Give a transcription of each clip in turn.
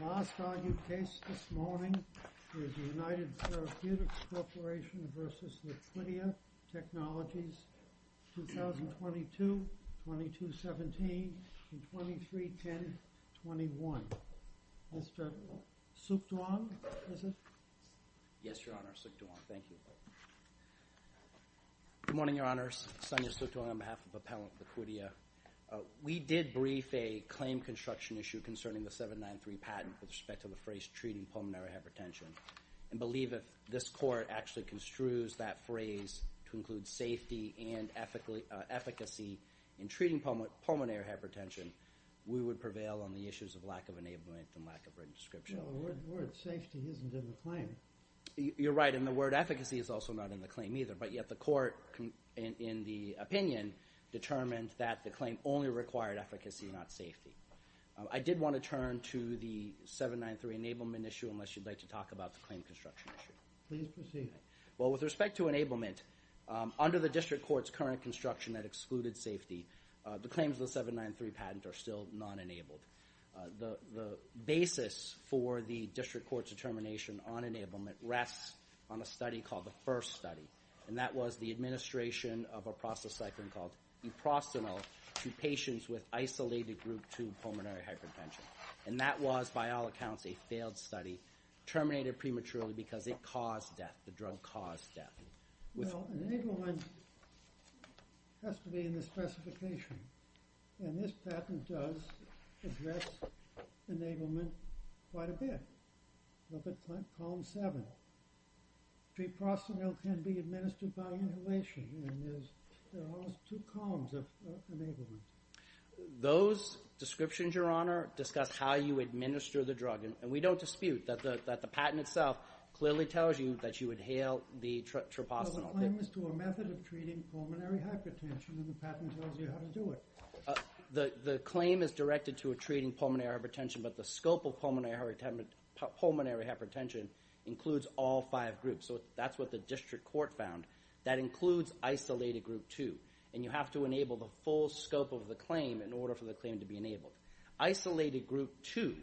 The last argued case this morning is the United Therapeutics Corporation v. Liquidia Technologies, 2022-2017 and 23-10-21. Mr. Suk Duong, is it? Yes, Your Honor, Suk Duong. Thank you. Good morning, Your Honors. Sonia Suk Duong on behalf of Appellant Liquidia. We did brief a claim construction issue concerning the 793 patent with respect to the phrase treating pulmonary hypertension and believe if this Court actually construes that phrase to include safety and efficacy in treating pulmonary hypertension, we would prevail on the issues of lack of enablement and lack of written description. Well, the word safety isn't in the claim. You're right, and the word efficacy is also not in the claim either. But yet the Court, in the opinion, determined that the claim only required efficacy, not safety. I did want to turn to the 793 enablement issue unless you'd like to talk about the claim construction issue. Please proceed. Well, with respect to enablement, under the District Court's current construction that excluded safety, the claims of the 793 patent are still non-enabled. The basis for the District Court's determination on enablement rests on a study called the FIRST study, and that was the administration of a process cyclin called eprosinol to patients with isolated group 2 pulmonary hypertension. And that was, by all accounts, a failed study terminated prematurely because it caused death. The drug caused death. Well, enablement has to be in the specification, and this patent does address enablement quite a bit. Look at Column 7. Eprosinol can be administered by inhalation, and there are almost two columns of enablement. Those descriptions, Your Honor, discuss how you administer the drug, and we don't dispute that the patent itself clearly tells you that you inhale the troposinol. Well, the claim is to a method of treating pulmonary hypertension, and the patent tells you how to do it. The claim is directed to treating pulmonary hypertension, but the scope of pulmonary hypertension includes all five groups, so that's what the District Court found. That includes isolated group 2, and you have to enable the full scope of the claim in order for the claim to be enabled. Isolated group 2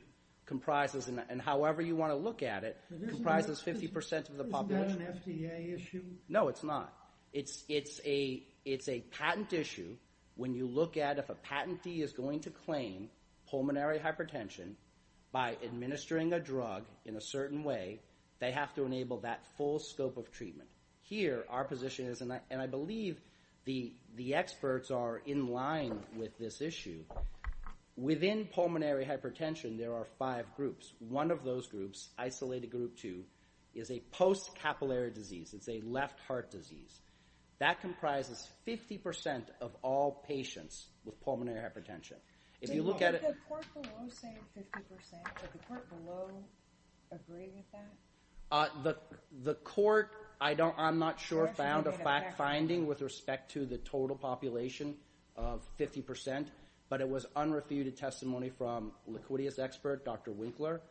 comprises, and however you want to look at it, comprises 50% of the population. Isn't that an FDA issue? No, it's not. It's a patent issue. When you look at if a patentee is going to claim pulmonary hypertension by administering a drug in a certain way, they have to enable that full scope of treatment. Here, our position is, and I believe the experts are in line with this issue, within pulmonary hypertension there are five groups. One of those groups, isolated group 2, is a post-capillary disease. It's a left heart disease. That comprises 50% of all patients with pulmonary hypertension. Did the court below say 50%? Did the court below agree with that? The court, I'm not sure, found a fact-finding with respect to the total population of 50%, but it was unrefuted testimony from Liquidius expert Dr. Winkler,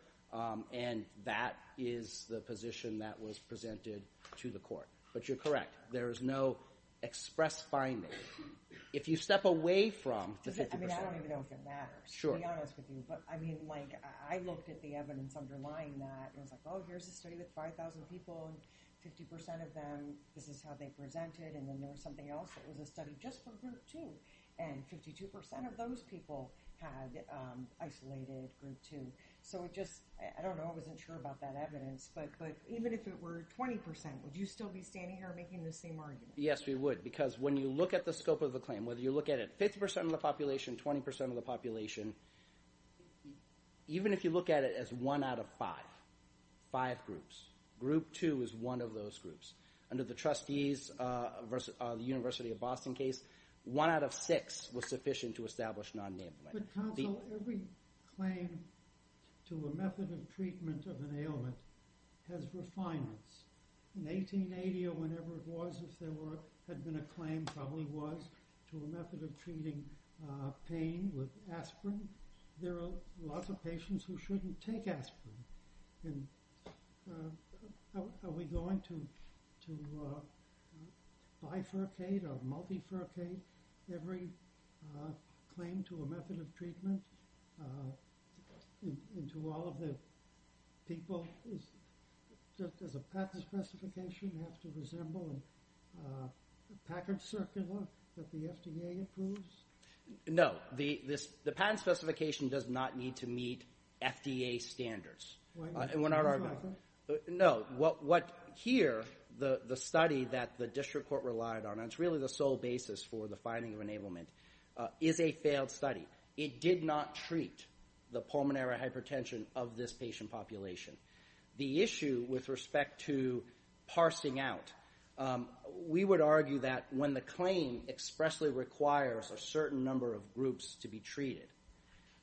and that is the position that was presented to the court. But you're correct. There is no express finding. If you step away from the 50%… I don't even know if it matters, to be honest with you. I looked at the evidence underlying that. It was like, oh, here's a study with 5,000 people and 50% of them, this is how they presented, and then there was something else that was a study just for group 2, and 52% of those people had isolated group 2. So it just, I don't know, I wasn't sure about that evidence. But even if it were 20%, would you still be standing here making the same argument? Yes, we would, because when you look at the scope of the claim, whether you look at it, 50% of the population, 20% of the population, even if you look at it as one out of five, five groups, group 2 is one of those groups. Under the trustees, the University of Boston case, one out of six was sufficient to establish non-enablement. But counsel, every claim to a method of treatment of an ailment has refinements. In 1880 or whenever it was, if there had been a claim, probably was, to a method of treating pain with aspirin, there are lots of patients who shouldn't take aspirin. And are we going to bifurcate or multifurcate every claim to a method of treatment? And to all of the people, does a patent specification have to resemble a Packard circular that the FDA approves? No. The patent specification does not need to meet FDA standards. Why not? No. What here, the study that the district court relied on, and it's really the sole basis for the finding of enablement, is a failed study. It did not treat the pulmonary hypertension of this patient population. The issue with respect to parsing out, we would argue that when the claim expressly requires a certain number of groups to be treated,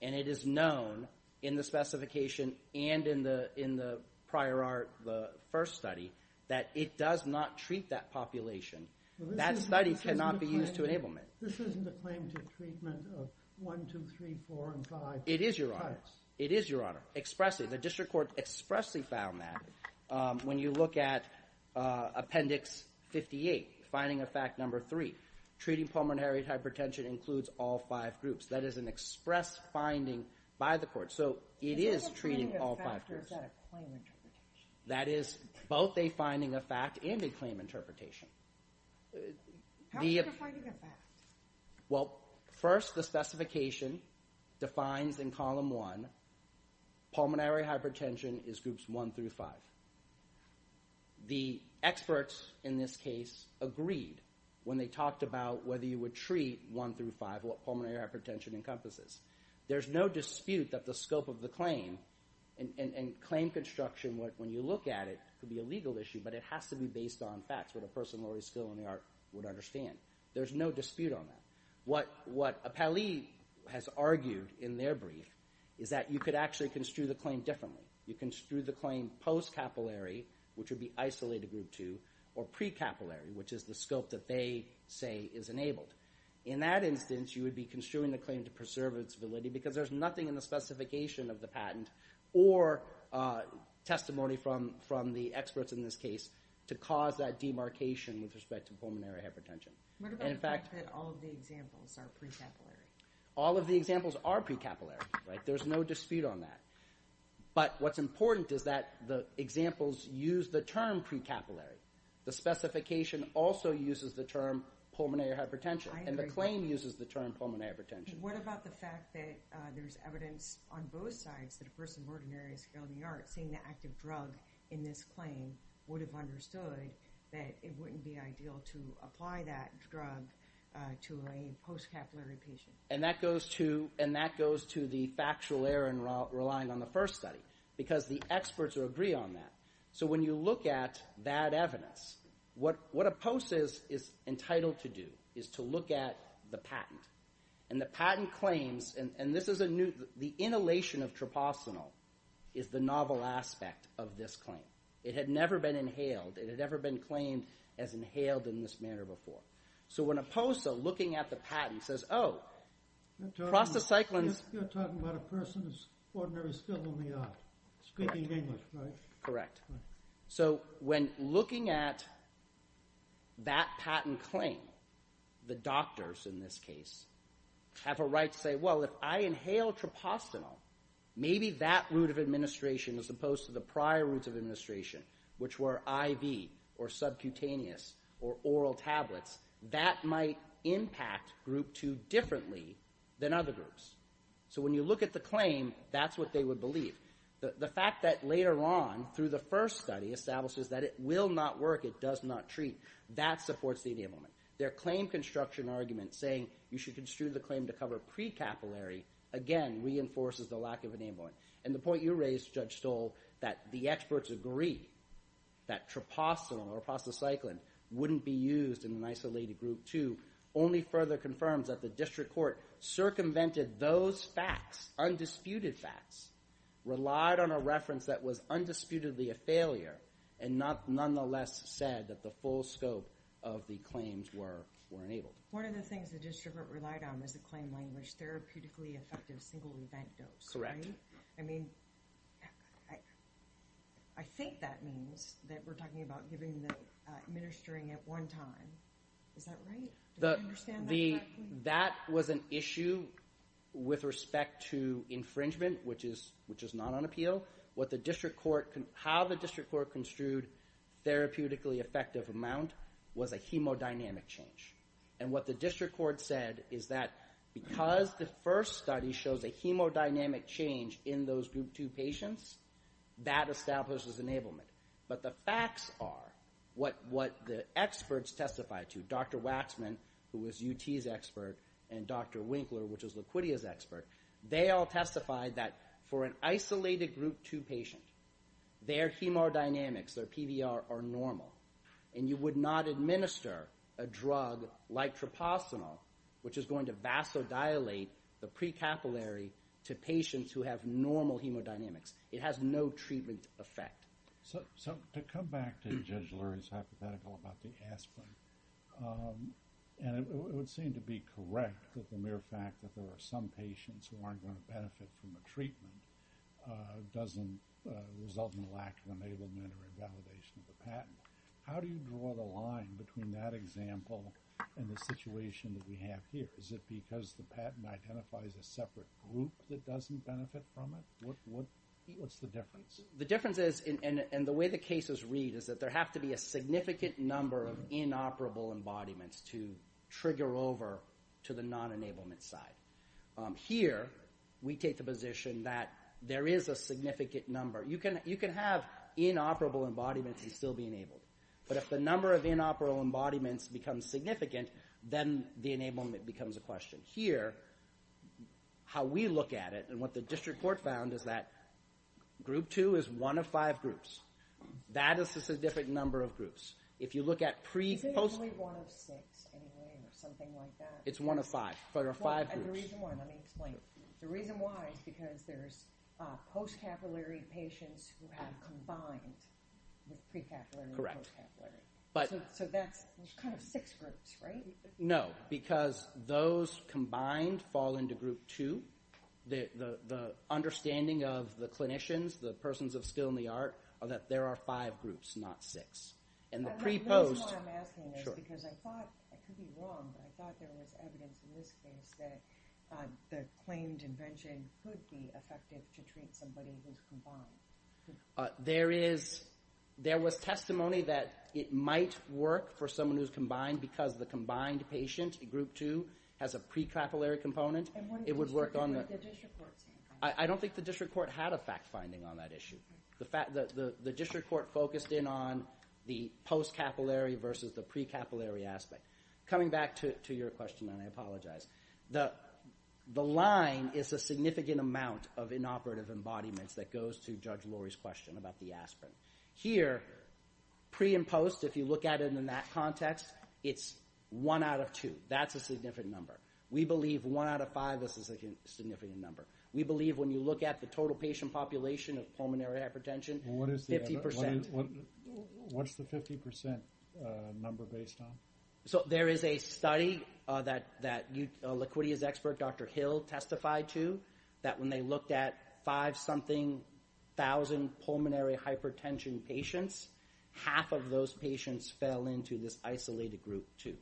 and it is known in the specification and in the prior art, the first study, that it does not treat that population, that study cannot be used to enablement. This isn't a claim to treatment of one, two, three, four, and five types. It is, Your Honor. Expressly. The district court expressly found that. When you look at Appendix 58, Finding of Fact Number 3, treating pulmonary hypertension includes all five groups. That is an express finding by the court. So it is treating all five groups. Is that a finding of fact or is that a claim interpretation? That is both a finding of fact and a claim interpretation. How is it a finding of fact? Well, first the specification defines in Column 1, pulmonary hypertension is Groups 1 through 5. The experts in this case agreed when they talked about whether you would treat 1 through 5 what pulmonary hypertension encompasses. There's no dispute that the scope of the claim and claim construction, when you look at it, could be a legal issue, but it has to be based on facts that a person with a lower skill in the art would understand. There's no dispute on that. What Appellee has argued in their brief is that you could actually construe the claim differently. You construe the claim post-capillary, which would be isolated Group 2, or pre-capillary, which is the scope that they say is enabled. In that instance, you would be construing the claim to preserve its validity because there's nothing in the specification of the patent or testimony from the experts in this case to cause that demarcation with respect to pulmonary hypertension. What about the fact that all of the examples are pre-capillary? All of the examples are pre-capillary. There's no dispute on that. But what's important is that the examples use the term pre-capillary. The specification also uses the term pulmonary hypertension, and the claim uses the term pulmonary hypertension. What about the fact that there's evidence on both sides that a person of ordinary skill in the art, seeing the active drug in this claim, would have understood that it wouldn't be ideal to apply that drug to a post-capillary patient? And that goes to the factual error in relying on the first study because the experts would agree on that. So when you look at that evidence, what a post is entitled to do is to look at the patent. And the patent claims, and this is a new... is the novel aspect of this claim. It had never been inhaled. It had never been claimed as inhaled in this manner before. So when a post, looking at the patent, says, Oh, prostacyclines... You're talking about a person of ordinary skill in the art, speaking English, right? Correct. So when looking at that patent claim, the doctors, in this case, have a right to say, Well, if I inhale trypostanol, maybe that route of administration, as opposed to the prior routes of administration, which were IV or subcutaneous or oral tablets, that might impact Group 2 differently than other groups. So when you look at the claim, that's what they would believe. The fact that later on, through the first study, establishes that it will not work, it does not treat, that supports the enablement. Their claim construction argument saying you should construe the claim to cover pre-capillary, again, reinforces the lack of enablement. And the point you raised, Judge Stoll, that the experts agree that trypostanol or prostacycline wouldn't be used in an isolated Group 2 only further confirms that the district court circumvented those facts, undisputed facts, relied on a reference that was undisputedly a failure, and nonetheless said that the full scope of the claims were enabled. One of the things the district court relied on was the claim language, therapeutically effective single event dose, right? Correct. I mean, I think that means that we're talking about administering at one time. Is that right? Do I understand that correctly? That was an issue with respect to infringement, which is not on appeal. How the district court construed therapeutically effective amount was a hemodynamic change. And what the district court said is that because the first study shows a hemodynamic change in those Group 2 patients, that establishes enablement. But the facts are, what the experts testified to, Dr. Waxman, who was UT's expert, and Dr. Winkler, which was Liquidia's expert, they all testified that for an isolated Group 2 patient, their hemodynamics, their PVR, are normal, and you would not administer a drug like troposinol, which is going to vasodilate the pre-capillary to patients who have normal hemodynamics. It has no treatment effect. So to come back to Judge Lurie's hypothetical about the aspirin, and it would seem to be correct that the mere fact that there are some patients who aren't going to benefit from a treatment doesn't result in a lack of enablement or invalidation of the patent. How do you draw the line between that example and the situation that we have here? Is it because the patent identifies a separate group that doesn't benefit from it? What's the difference? The difference is, and the way the cases read, is that there have to be a significant number of inoperable embodiments to trigger over to the non-enablement side. Here, we take the position that there is a significant number. You can have inoperable embodiments and still be enabled. But if the number of inoperable embodiments becomes significant, then the enablement becomes a question. Here, how we look at it, and what the district court found, is that group 2 is one of five groups. That is a significant number of groups. If you look at pre... Is it only one of six, anyway, or something like that? It's one of five. There are five groups. The reason why, let me explain. The reason why is because there's post-capillary patients who have combined with pre-capillary and post-capillary. So that's kind of six groups, right? No, because those combined fall into group 2. The understanding of the clinicians, the persons of skill and the art, are that there are five groups, not six. And the pre-post... That's why I'm asking this, because I thought, I could be wrong, but I thought there was evidence in this case that the claimed invention could be effective to treat somebody who's combined. There is... There was testimony that it might work for someone who's combined because the combined patient in group 2 has a pre-capillary component. It would work on the... I don't think the district court had a fact-finding on that issue. The district court focused in on the post-capillary versus the pre-capillary aspect. Coming back to your question, and I apologize. The line is a significant amount of inoperative embodiments that goes to Judge Lori's question about the aspirin. Here, pre and post, if you look at it in that context, it's 1 out of 2. That's a significant number. We believe 1 out of 5 is a significant number. We believe when you look at the total patient population of pulmonary hypertension, 50%. What's the 50% number based on? So there is a study that Laquitia's expert, Dr. Hill, testified to that when they looked at 5-something thousand pulmonary hypertension patients, half of those patients fell into this isolated group 2.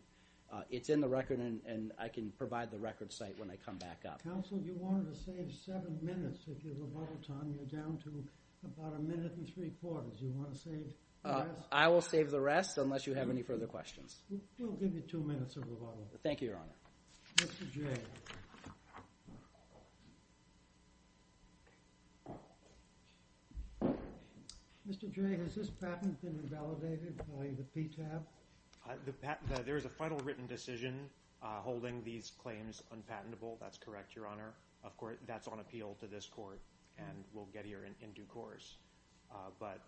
It's in the record, and I can provide the record site when I come back up. Counsel, you wanted to save 7 minutes. If you have a bubble time, you're down to about a minute and three-quarters. Do you want to save the rest? Yes, unless you have any further questions. We'll give you two minutes of the bubble. Thank you, Your Honor. Mr. Jay. Mr. Jay, has this patent been revalidated by the PTAP? There is a final written decision holding these claims unpatentable. That's correct, Your Honor. Of course, that's on appeal to this court, and we'll get here in due course. But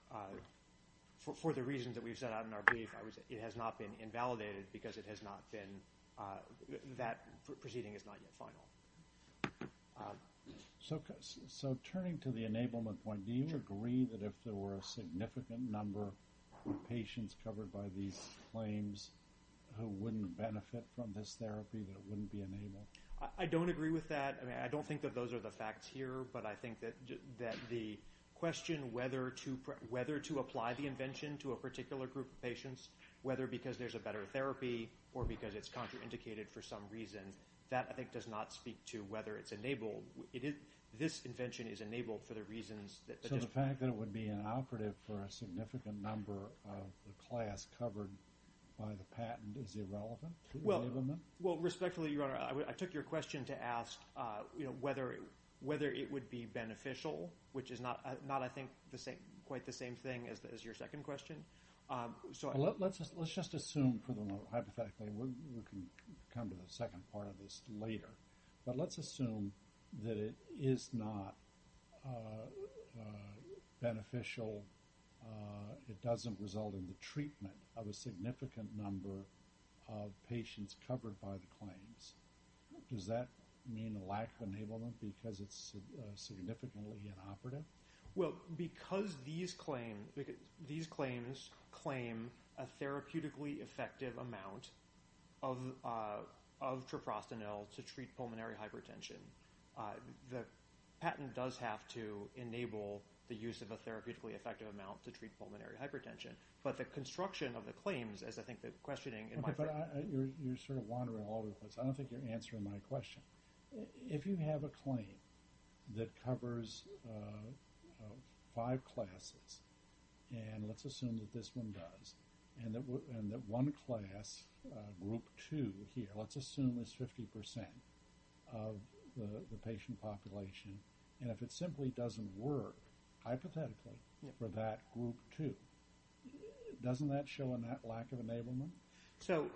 for the reasons that we've set out in our brief, it has not been invalidated because it has not been that proceeding is not yet final. So turning to the enablement point, do you agree that if there were a significant number of patients covered by these claims who wouldn't benefit from this therapy, that it wouldn't be enabled? I don't agree with that. I mean, I don't think that those are the facts here, but I think that the question whether to apply the invention to a particular group of patients, whether because there's a better therapy or because it's contraindicated for some reason, that I think does not speak to whether it's enabled. This invention is enabled for the reasons that just... So the fact that it would be inoperative for a significant number of the class covered by the patent is irrelevant to enablement? Well, respectfully, Your Honor, I took your question to ask whether it would be beneficial, which is not, I think, quite the same thing as your second question. Let's just assume, hypothetically, we can come to the second part of this later, but let's assume that it is not beneficial, it doesn't result in the treatment of a significant number of patients covered by the claims. Does that mean a lack of enablement because it's significantly inoperative? Well, because these claims claim a therapeutically effective amount of troprostanil to treat pulmonary hypertension, the patent does have to enable the use of a therapeutically effective amount to treat pulmonary hypertension. But the construction of the claims, as I think the questioning... Your Honor, you're sort of wandering all over the place. I don't think you're answering my question. If you have a claim that covers five classes, and let's assume that this one does, and that one class, group two here, let's assume is 50% of the patient population, and if it simply doesn't work, hypothetically, for that group two, doesn't that show a lack of enablement? So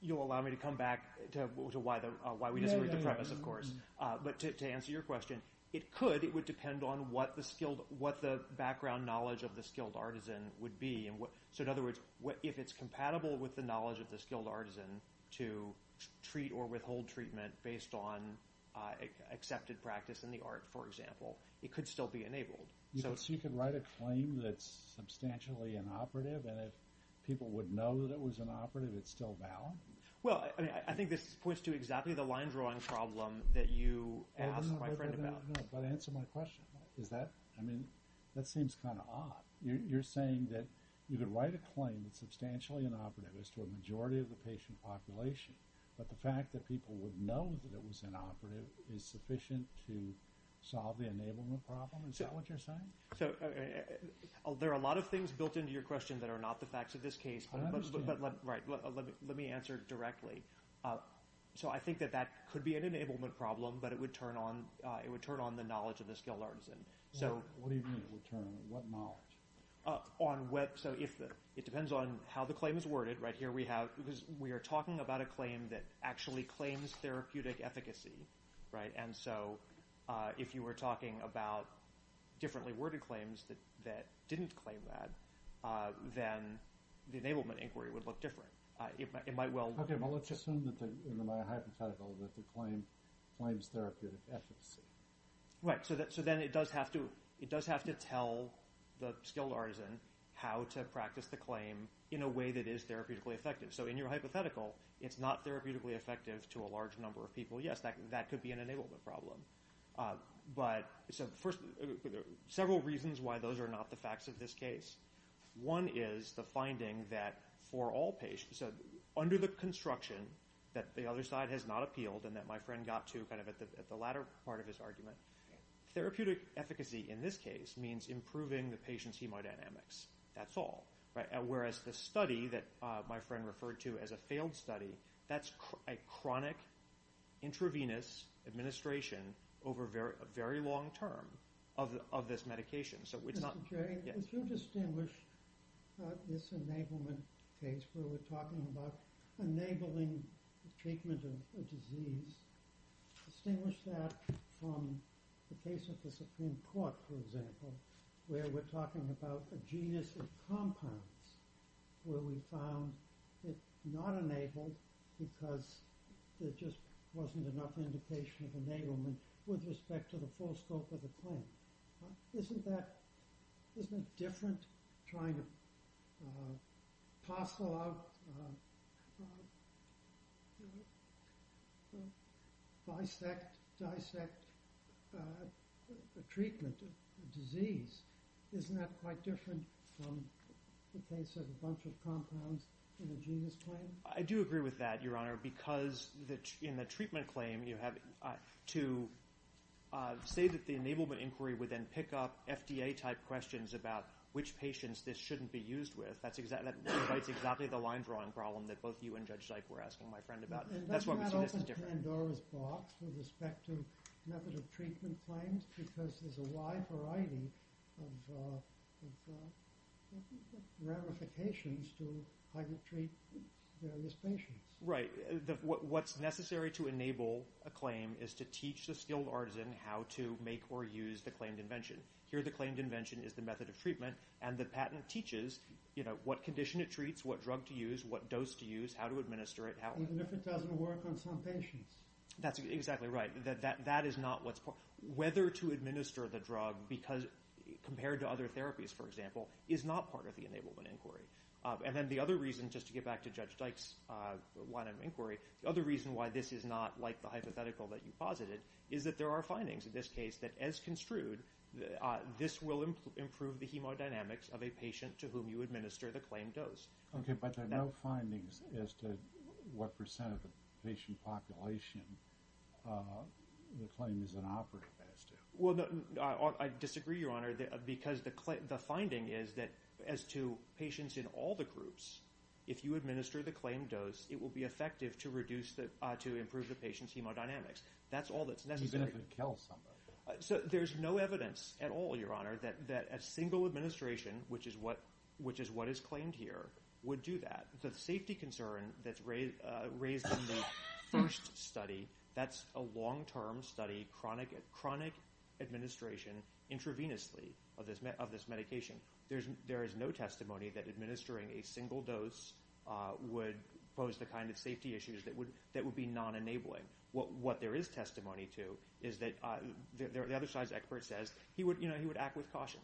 you'll allow me to come back to why we disagree with the premise, of course. But to answer your question, it could. It would depend on what the background knowledge of the skilled artisan would be. So in other words, if it's compatible with the knowledge of the skilled artisan to treat or withhold treatment based on accepted practice in the art, for example, it could still be enabled. So you could write a claim that's substantially inoperative, and if people would know that it was inoperative, it's still valid? Well, I think this points to exactly the line-drawing problem that you asked my friend about. But answer my question. I mean, that seems kind of odd. You're saying that you could write a claim that's substantially inoperative as to a majority of the patient population, but the fact that people would know that it was inoperative is sufficient to solve the enablement problem? Is that what you're saying? So there are a lot of things built into your question that are not the facts of this case. But let me answer directly. So I think that that could be an enablement problem, but it would turn on the knowledge of the skilled artisan. What do you mean, would turn on? What knowledge? It depends on how the claim is worded. Right here we have... Because we are talking about a claim that actually claims therapeutic efficacy. And so if you were talking about differently worded claims that didn't claim that, then the enablement inquiry would look different. It might well... Okay, but let's assume in my hypothetical that the claim claims therapeutic efficacy. Right, so then it does have to tell the skilled artisan how to practice the claim in a way that is therapeutically effective. So in your hypothetical, it's not therapeutically effective to a large number of people. Yes, that could be an enablement problem. But several reasons why those are not the facts of this case. One is the finding that for all patients... Under the construction that the other side has not appealed and that my friend got to at the latter part of his argument, therapeutic efficacy in this case means improving the patient's hemodynamics. That's all. Whereas the study that my friend referred to as a failed study, that's a chronic intravenous administration over a very long term of this medication. So it's not... If you distinguish this enablement case where we're talking about enabling treatment of a disease, distinguish that from the case of the Supreme Court, for example, where we're talking about a genus of compounds where we found it not enabled because there just wasn't enough indication of enablement with respect to the full scope of the claim. Isn't that... Isn't it different trying to parcel out... ...dissect a treatment, a disease? Isn't that quite different from the case of a bunch of compounds in a genus claim? I do agree with that, Your Honor, because in the treatment claim, to say that the enablement inquiry would then pick up FDA-type questions about which patients this shouldn't be used with, that's exactly the line-drawing problem that both you and Judge Dike were asking my friend about. And that's not open Pandora's box with respect to method of treatment claims because there's a wide variety of ramifications to how you treat various patients. Right. What's necessary to enable a claim is to teach the skilled artisan how to make or use the claimed invention. Here, the claimed invention is the method of treatment, and the patent teaches what condition it treats, what drug to use, what dose to use, how to administer it... Even if it doesn't work on some patients. That's exactly right. Whether to administer the drug compared to other therapies, for example, is not part of the enablement inquiry. And then the other reason, just to get back to Judge Dike's line of inquiry, the other reason why this is not like the hypothetical that you posited is that there are findings in this case that, as construed, this will improve the hemodynamics of a patient to whom you administer the claimed dose. Okay, but there are no findings as to what percent of the patient population the claim is inoperative as to. Well, I disagree, Your Honor, because the finding is that as to patients in all the groups, if you administer the claimed dose, it will be effective to improve the patient's hemodynamics. That's all that's necessary. Even if it kills somebody. So there's no evidence at all, Your Honor, that a single administration, which is what is claimed here, would do that. The safety concern that's raised in the first study, that's a long-term study, chronic administration intravenously of this medication. There is no testimony that administering a single dose would pose the kind of safety issues that would be non-enabling. What there is testimony to is that the other side's expert says, you know, he would act with caution.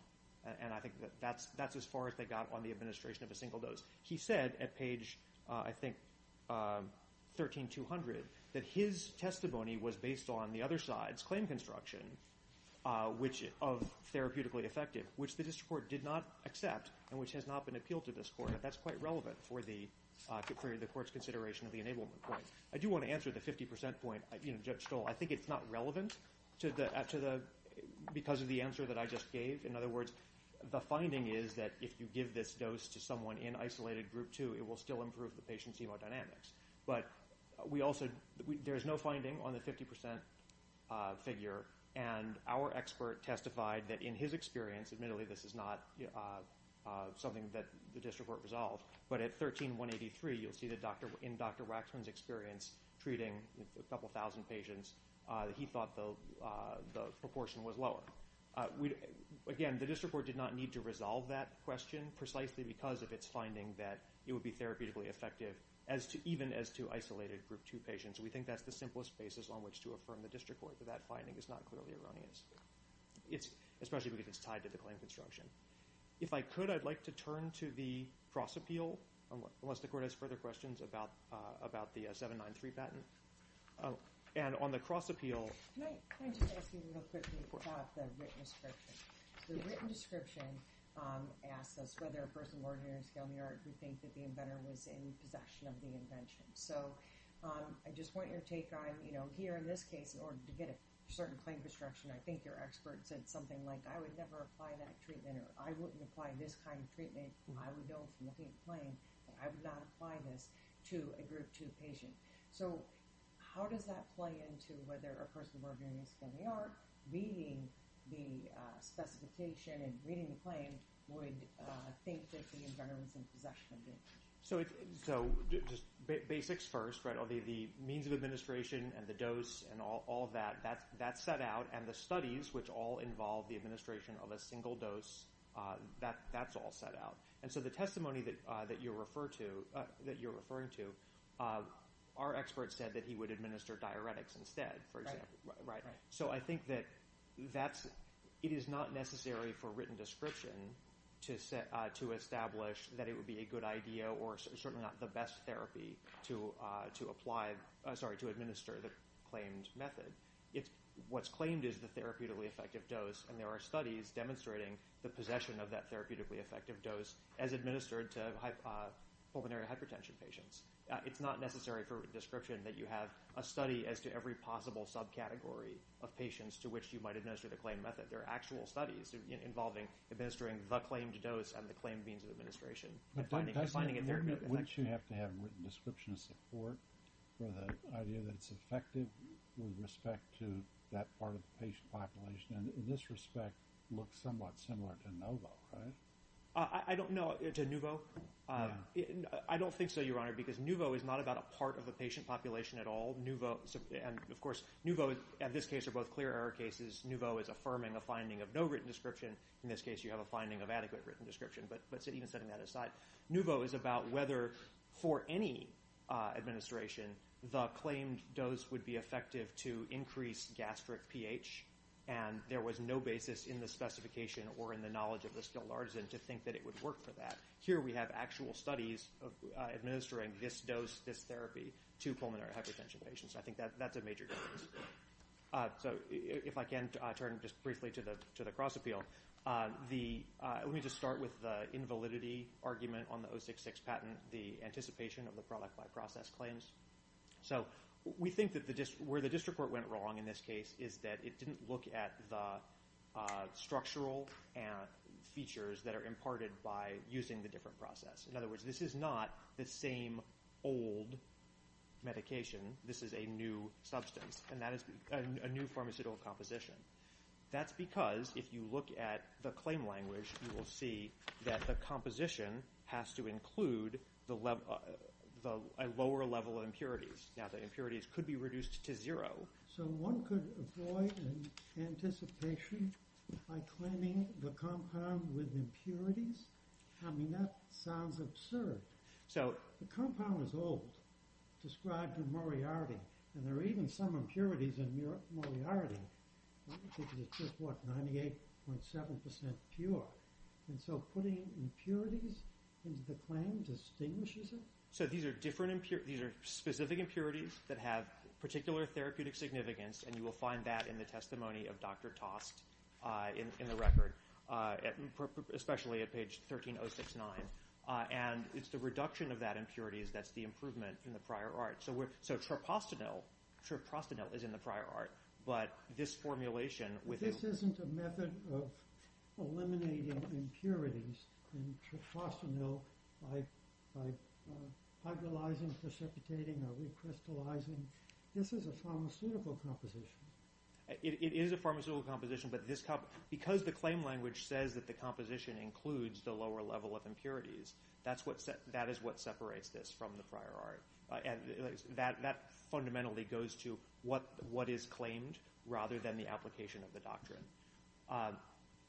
And I think that's as far as they got on the administration of a single dose. He said at page, I think, 13200, that his testimony was based on the other side's claim construction of therapeutically effective, which the district court did not accept and which has not been appealed to this court. That's quite relevant for the court's consideration of the enablement point. I do want to answer the 50% point Judge Stoll. I think it's not relevant because of the answer that I just gave. In other words, the finding is that if you give this dose to someone in isolated group 2, it will still improve the patient's hemodynamics. But there is no finding on the 50% figure, and our expert testified that in his experience, admittedly this is not something that the district court resolved, but at 13183, you'll see that in Dr. Waxman's experience treating a couple thousand patients, he thought the proportion was lower. Again, the district court did not need to resolve that question precisely because of its finding that it would be therapeutically effective even as to isolated group 2 patients. We think that's the simplest basis on which to affirm the district court that that finding is not clearly erroneous, especially because it's tied to the claim construction. If I could, I'd like to turn to the cross appeal, unless the court has further questions about the 793 patent. And on the cross appeal... Can I just ask you real quickly about the written description? The written description asks us whether a person of ordinary skill in the art would think that the inventor was in possession of the invention. So I just want your take on, you know, here in this case, in order to get a certain claim construction, I think your expert said something like, I would never apply that treatment, or I wouldn't apply this kind of treatment. I would know from looking at the claim that I would not apply this to a group 2 patient. So how does that play into whether a person of ordinary skill in the art reading the specification and reading the claim would think that the inventor was in possession of the invention? So just basics first, right? The means of administration and the dose and all of that, that's set out, and the studies, which all involve the administration of a single dose, that's all set out. And so the testimony that you're referring to our expert said that he would administer diuretics instead, for example. So I think that it is not necessary for written description to establish that it would be a good idea or certainly not the best therapy to administer the claimed method. What's claimed is the therapeutically effective dose, and there are studies demonstrating the possession of that therapeutically effective dose as administered to pulmonary hypertension patients. It's not necessary for description that you have a study as to every possible subcategory of patients to which you might administer the claimed method. There are actual studies involving administering the claimed dose and the claimed means of administration. Wouldn't you have to have written description of support for the idea that it's effective with respect to that part of the patient population? In this respect, it looks somewhat similar to NOVO, right? No, to NOVO? I don't think so, Your Honor, because NOVO is not about a part of the patient population at all. And, of course, NOVO in this case are both clear error cases. NOVO is affirming a finding of no written description. In this case, you have a finding of adequate written description, but even setting that aside, NOVO is about whether for any administration the claimed dose would be effective to increase gastric pH, and there was no basis in the specification or in the knowledge of the skilled artisan to think that it would work for that. Here we have actual studies administering this dose, this therapy, to pulmonary hypertension patients. I think that's a major difference. So if I can turn just briefly to the cross-appeal. Let me just start with the invalidity argument on the 066 patent, the anticipation of the product by process claims. So we think that where the district court went wrong in this case is that it didn't look at the structural features that are imparted by using the different process. In other words, this is not the same old medication. This is a new substance, and that is a new pharmaceutical composition. That's because if you look at the claim language, you will see that the composition has to include a lower level of impurities. Now, the impurities could be reduced to zero. So one could avoid anticipation by claiming the compound with impurities? I mean, that sounds absurd. The compound is old, described in Moriarty, and there are even some impurities in Moriarty. I think it's just, what, 98.7% pure. And so putting impurities into the claim distinguishes it? So these are specific impurities that have particular therapeutic significance, and you will find that in the testimony of Dr. Tost in the record, especially at page 13069. And it's the reduction of that impurity that's the improvement in the prior art. So triprostanil is in the prior art, but this formulation with the... This isn't a method of eliminating impurities in triprostanil by hydrolyzing, precipitating, or recrystallizing. This is a pharmaceutical composition. It is a pharmaceutical composition, but because the claim language says that the composition includes the lower level of impurities, that is what separates this from the prior art. That fundamentally goes to what is claimed rather than the application of the doctrine.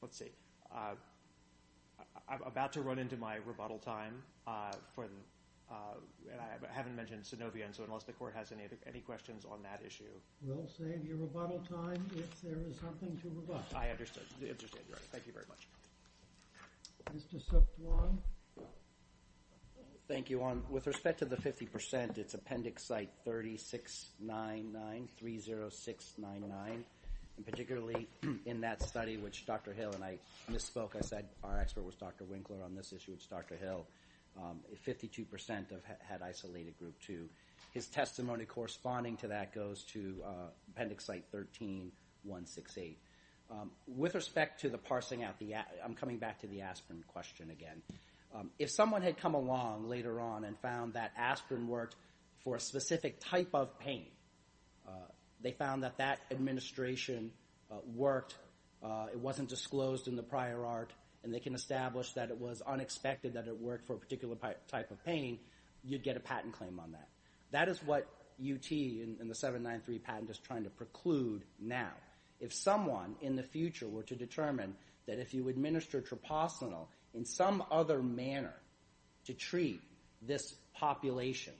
Let's see. I'm about to run into my rebuttal time. I haven't mentioned synovia, so unless the court has any questions on that issue... We'll save your rebuttal time if there is something to rebut. I understand. You're right. Thank you very much. Mr. Sukhdwan. Thank you, Juan. With respect to the 50%, it's Appendix Site 369930699. And particularly in that study, which Dr. Hill and I misspoke. Our expert was Dr. Winkler on this issue. It's Dr. Hill. 52% had isolated group 2. His testimony corresponding to that goes to Appendix Site 13168. With respect to the parsing out, I'm coming back to the aspirin question again. If someone had come along later on and found that aspirin worked for a specific type of pain, they found that that administration worked, it wasn't disclosed in the prior art, and they can establish that it was unexpected that it worked for a particular type of pain, you'd get a patent claim on that. That is what UT and the 793 patent is trying to preclude now. If someone in the future were to determine that if you administer troposylenol in some other manner to treat this population,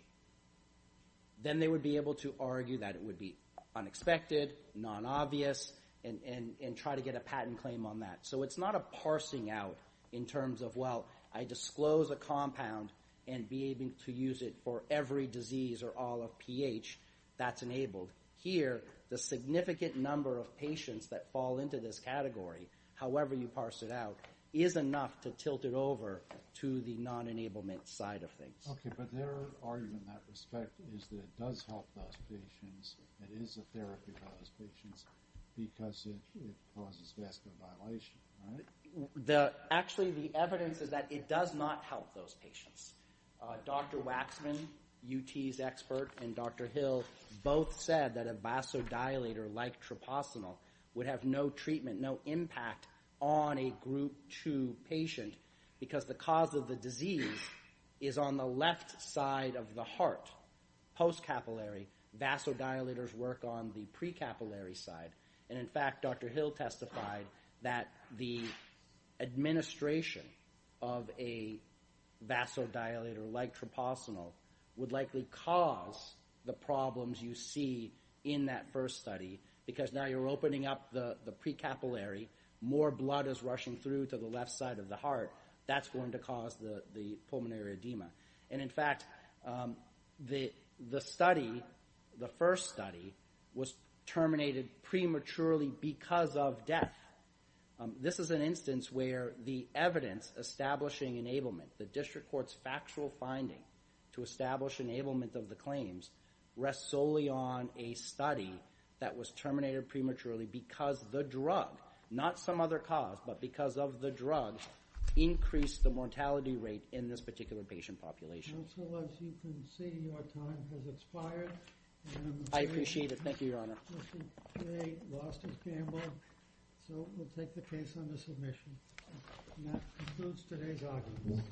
then they would be able to argue that it would be unexpected, non-obvious, and try to get a patent claim on that. So it's not a parsing out in terms of, well, I disclose a compound and be able to use it for every disease or all of pH that's enabled. Here, the significant number of patients that fall into this category, however you parse it out, is enough to tilt it over to the non-enablement side of things. Okay, but their argument in that respect is that it does help those patients, it is a therapy for those patients, because it causes vascular violation, right? Actually, the evidence is that it does not help those patients. Dr. Waxman, UT's expert, and Dr. Hill both said that a vasodilator like troposylenol would have no treatment, no impact, on a group 2 patient because the cause of the disease is on the left side of the heart, post-capillary. Vasodilators work on the pre-capillary side. And in fact, Dr. Hill testified that the administration of a vasodilator like troposylenol would likely cause the problems you see in that first study because now you're opening up the pre-capillary, more blood is rushing through to the left side of the heart, that's going to cause the pulmonary edema. And in fact, the study, the first study, was terminated prematurely because of death. This is an instance where the evidence establishing enablement, the district court's factual finding to establish enablement of the claims rests solely on a study that was terminated prematurely because the drug, not some other cause, but because of the drug, increased the mortality rate in this particular patient population. Counsel, as you can see, your time has expired. I appreciate it. Thank you, Your Honor. Mr. K lost his gamble, so we'll take the case under submission. And that concludes today's argument.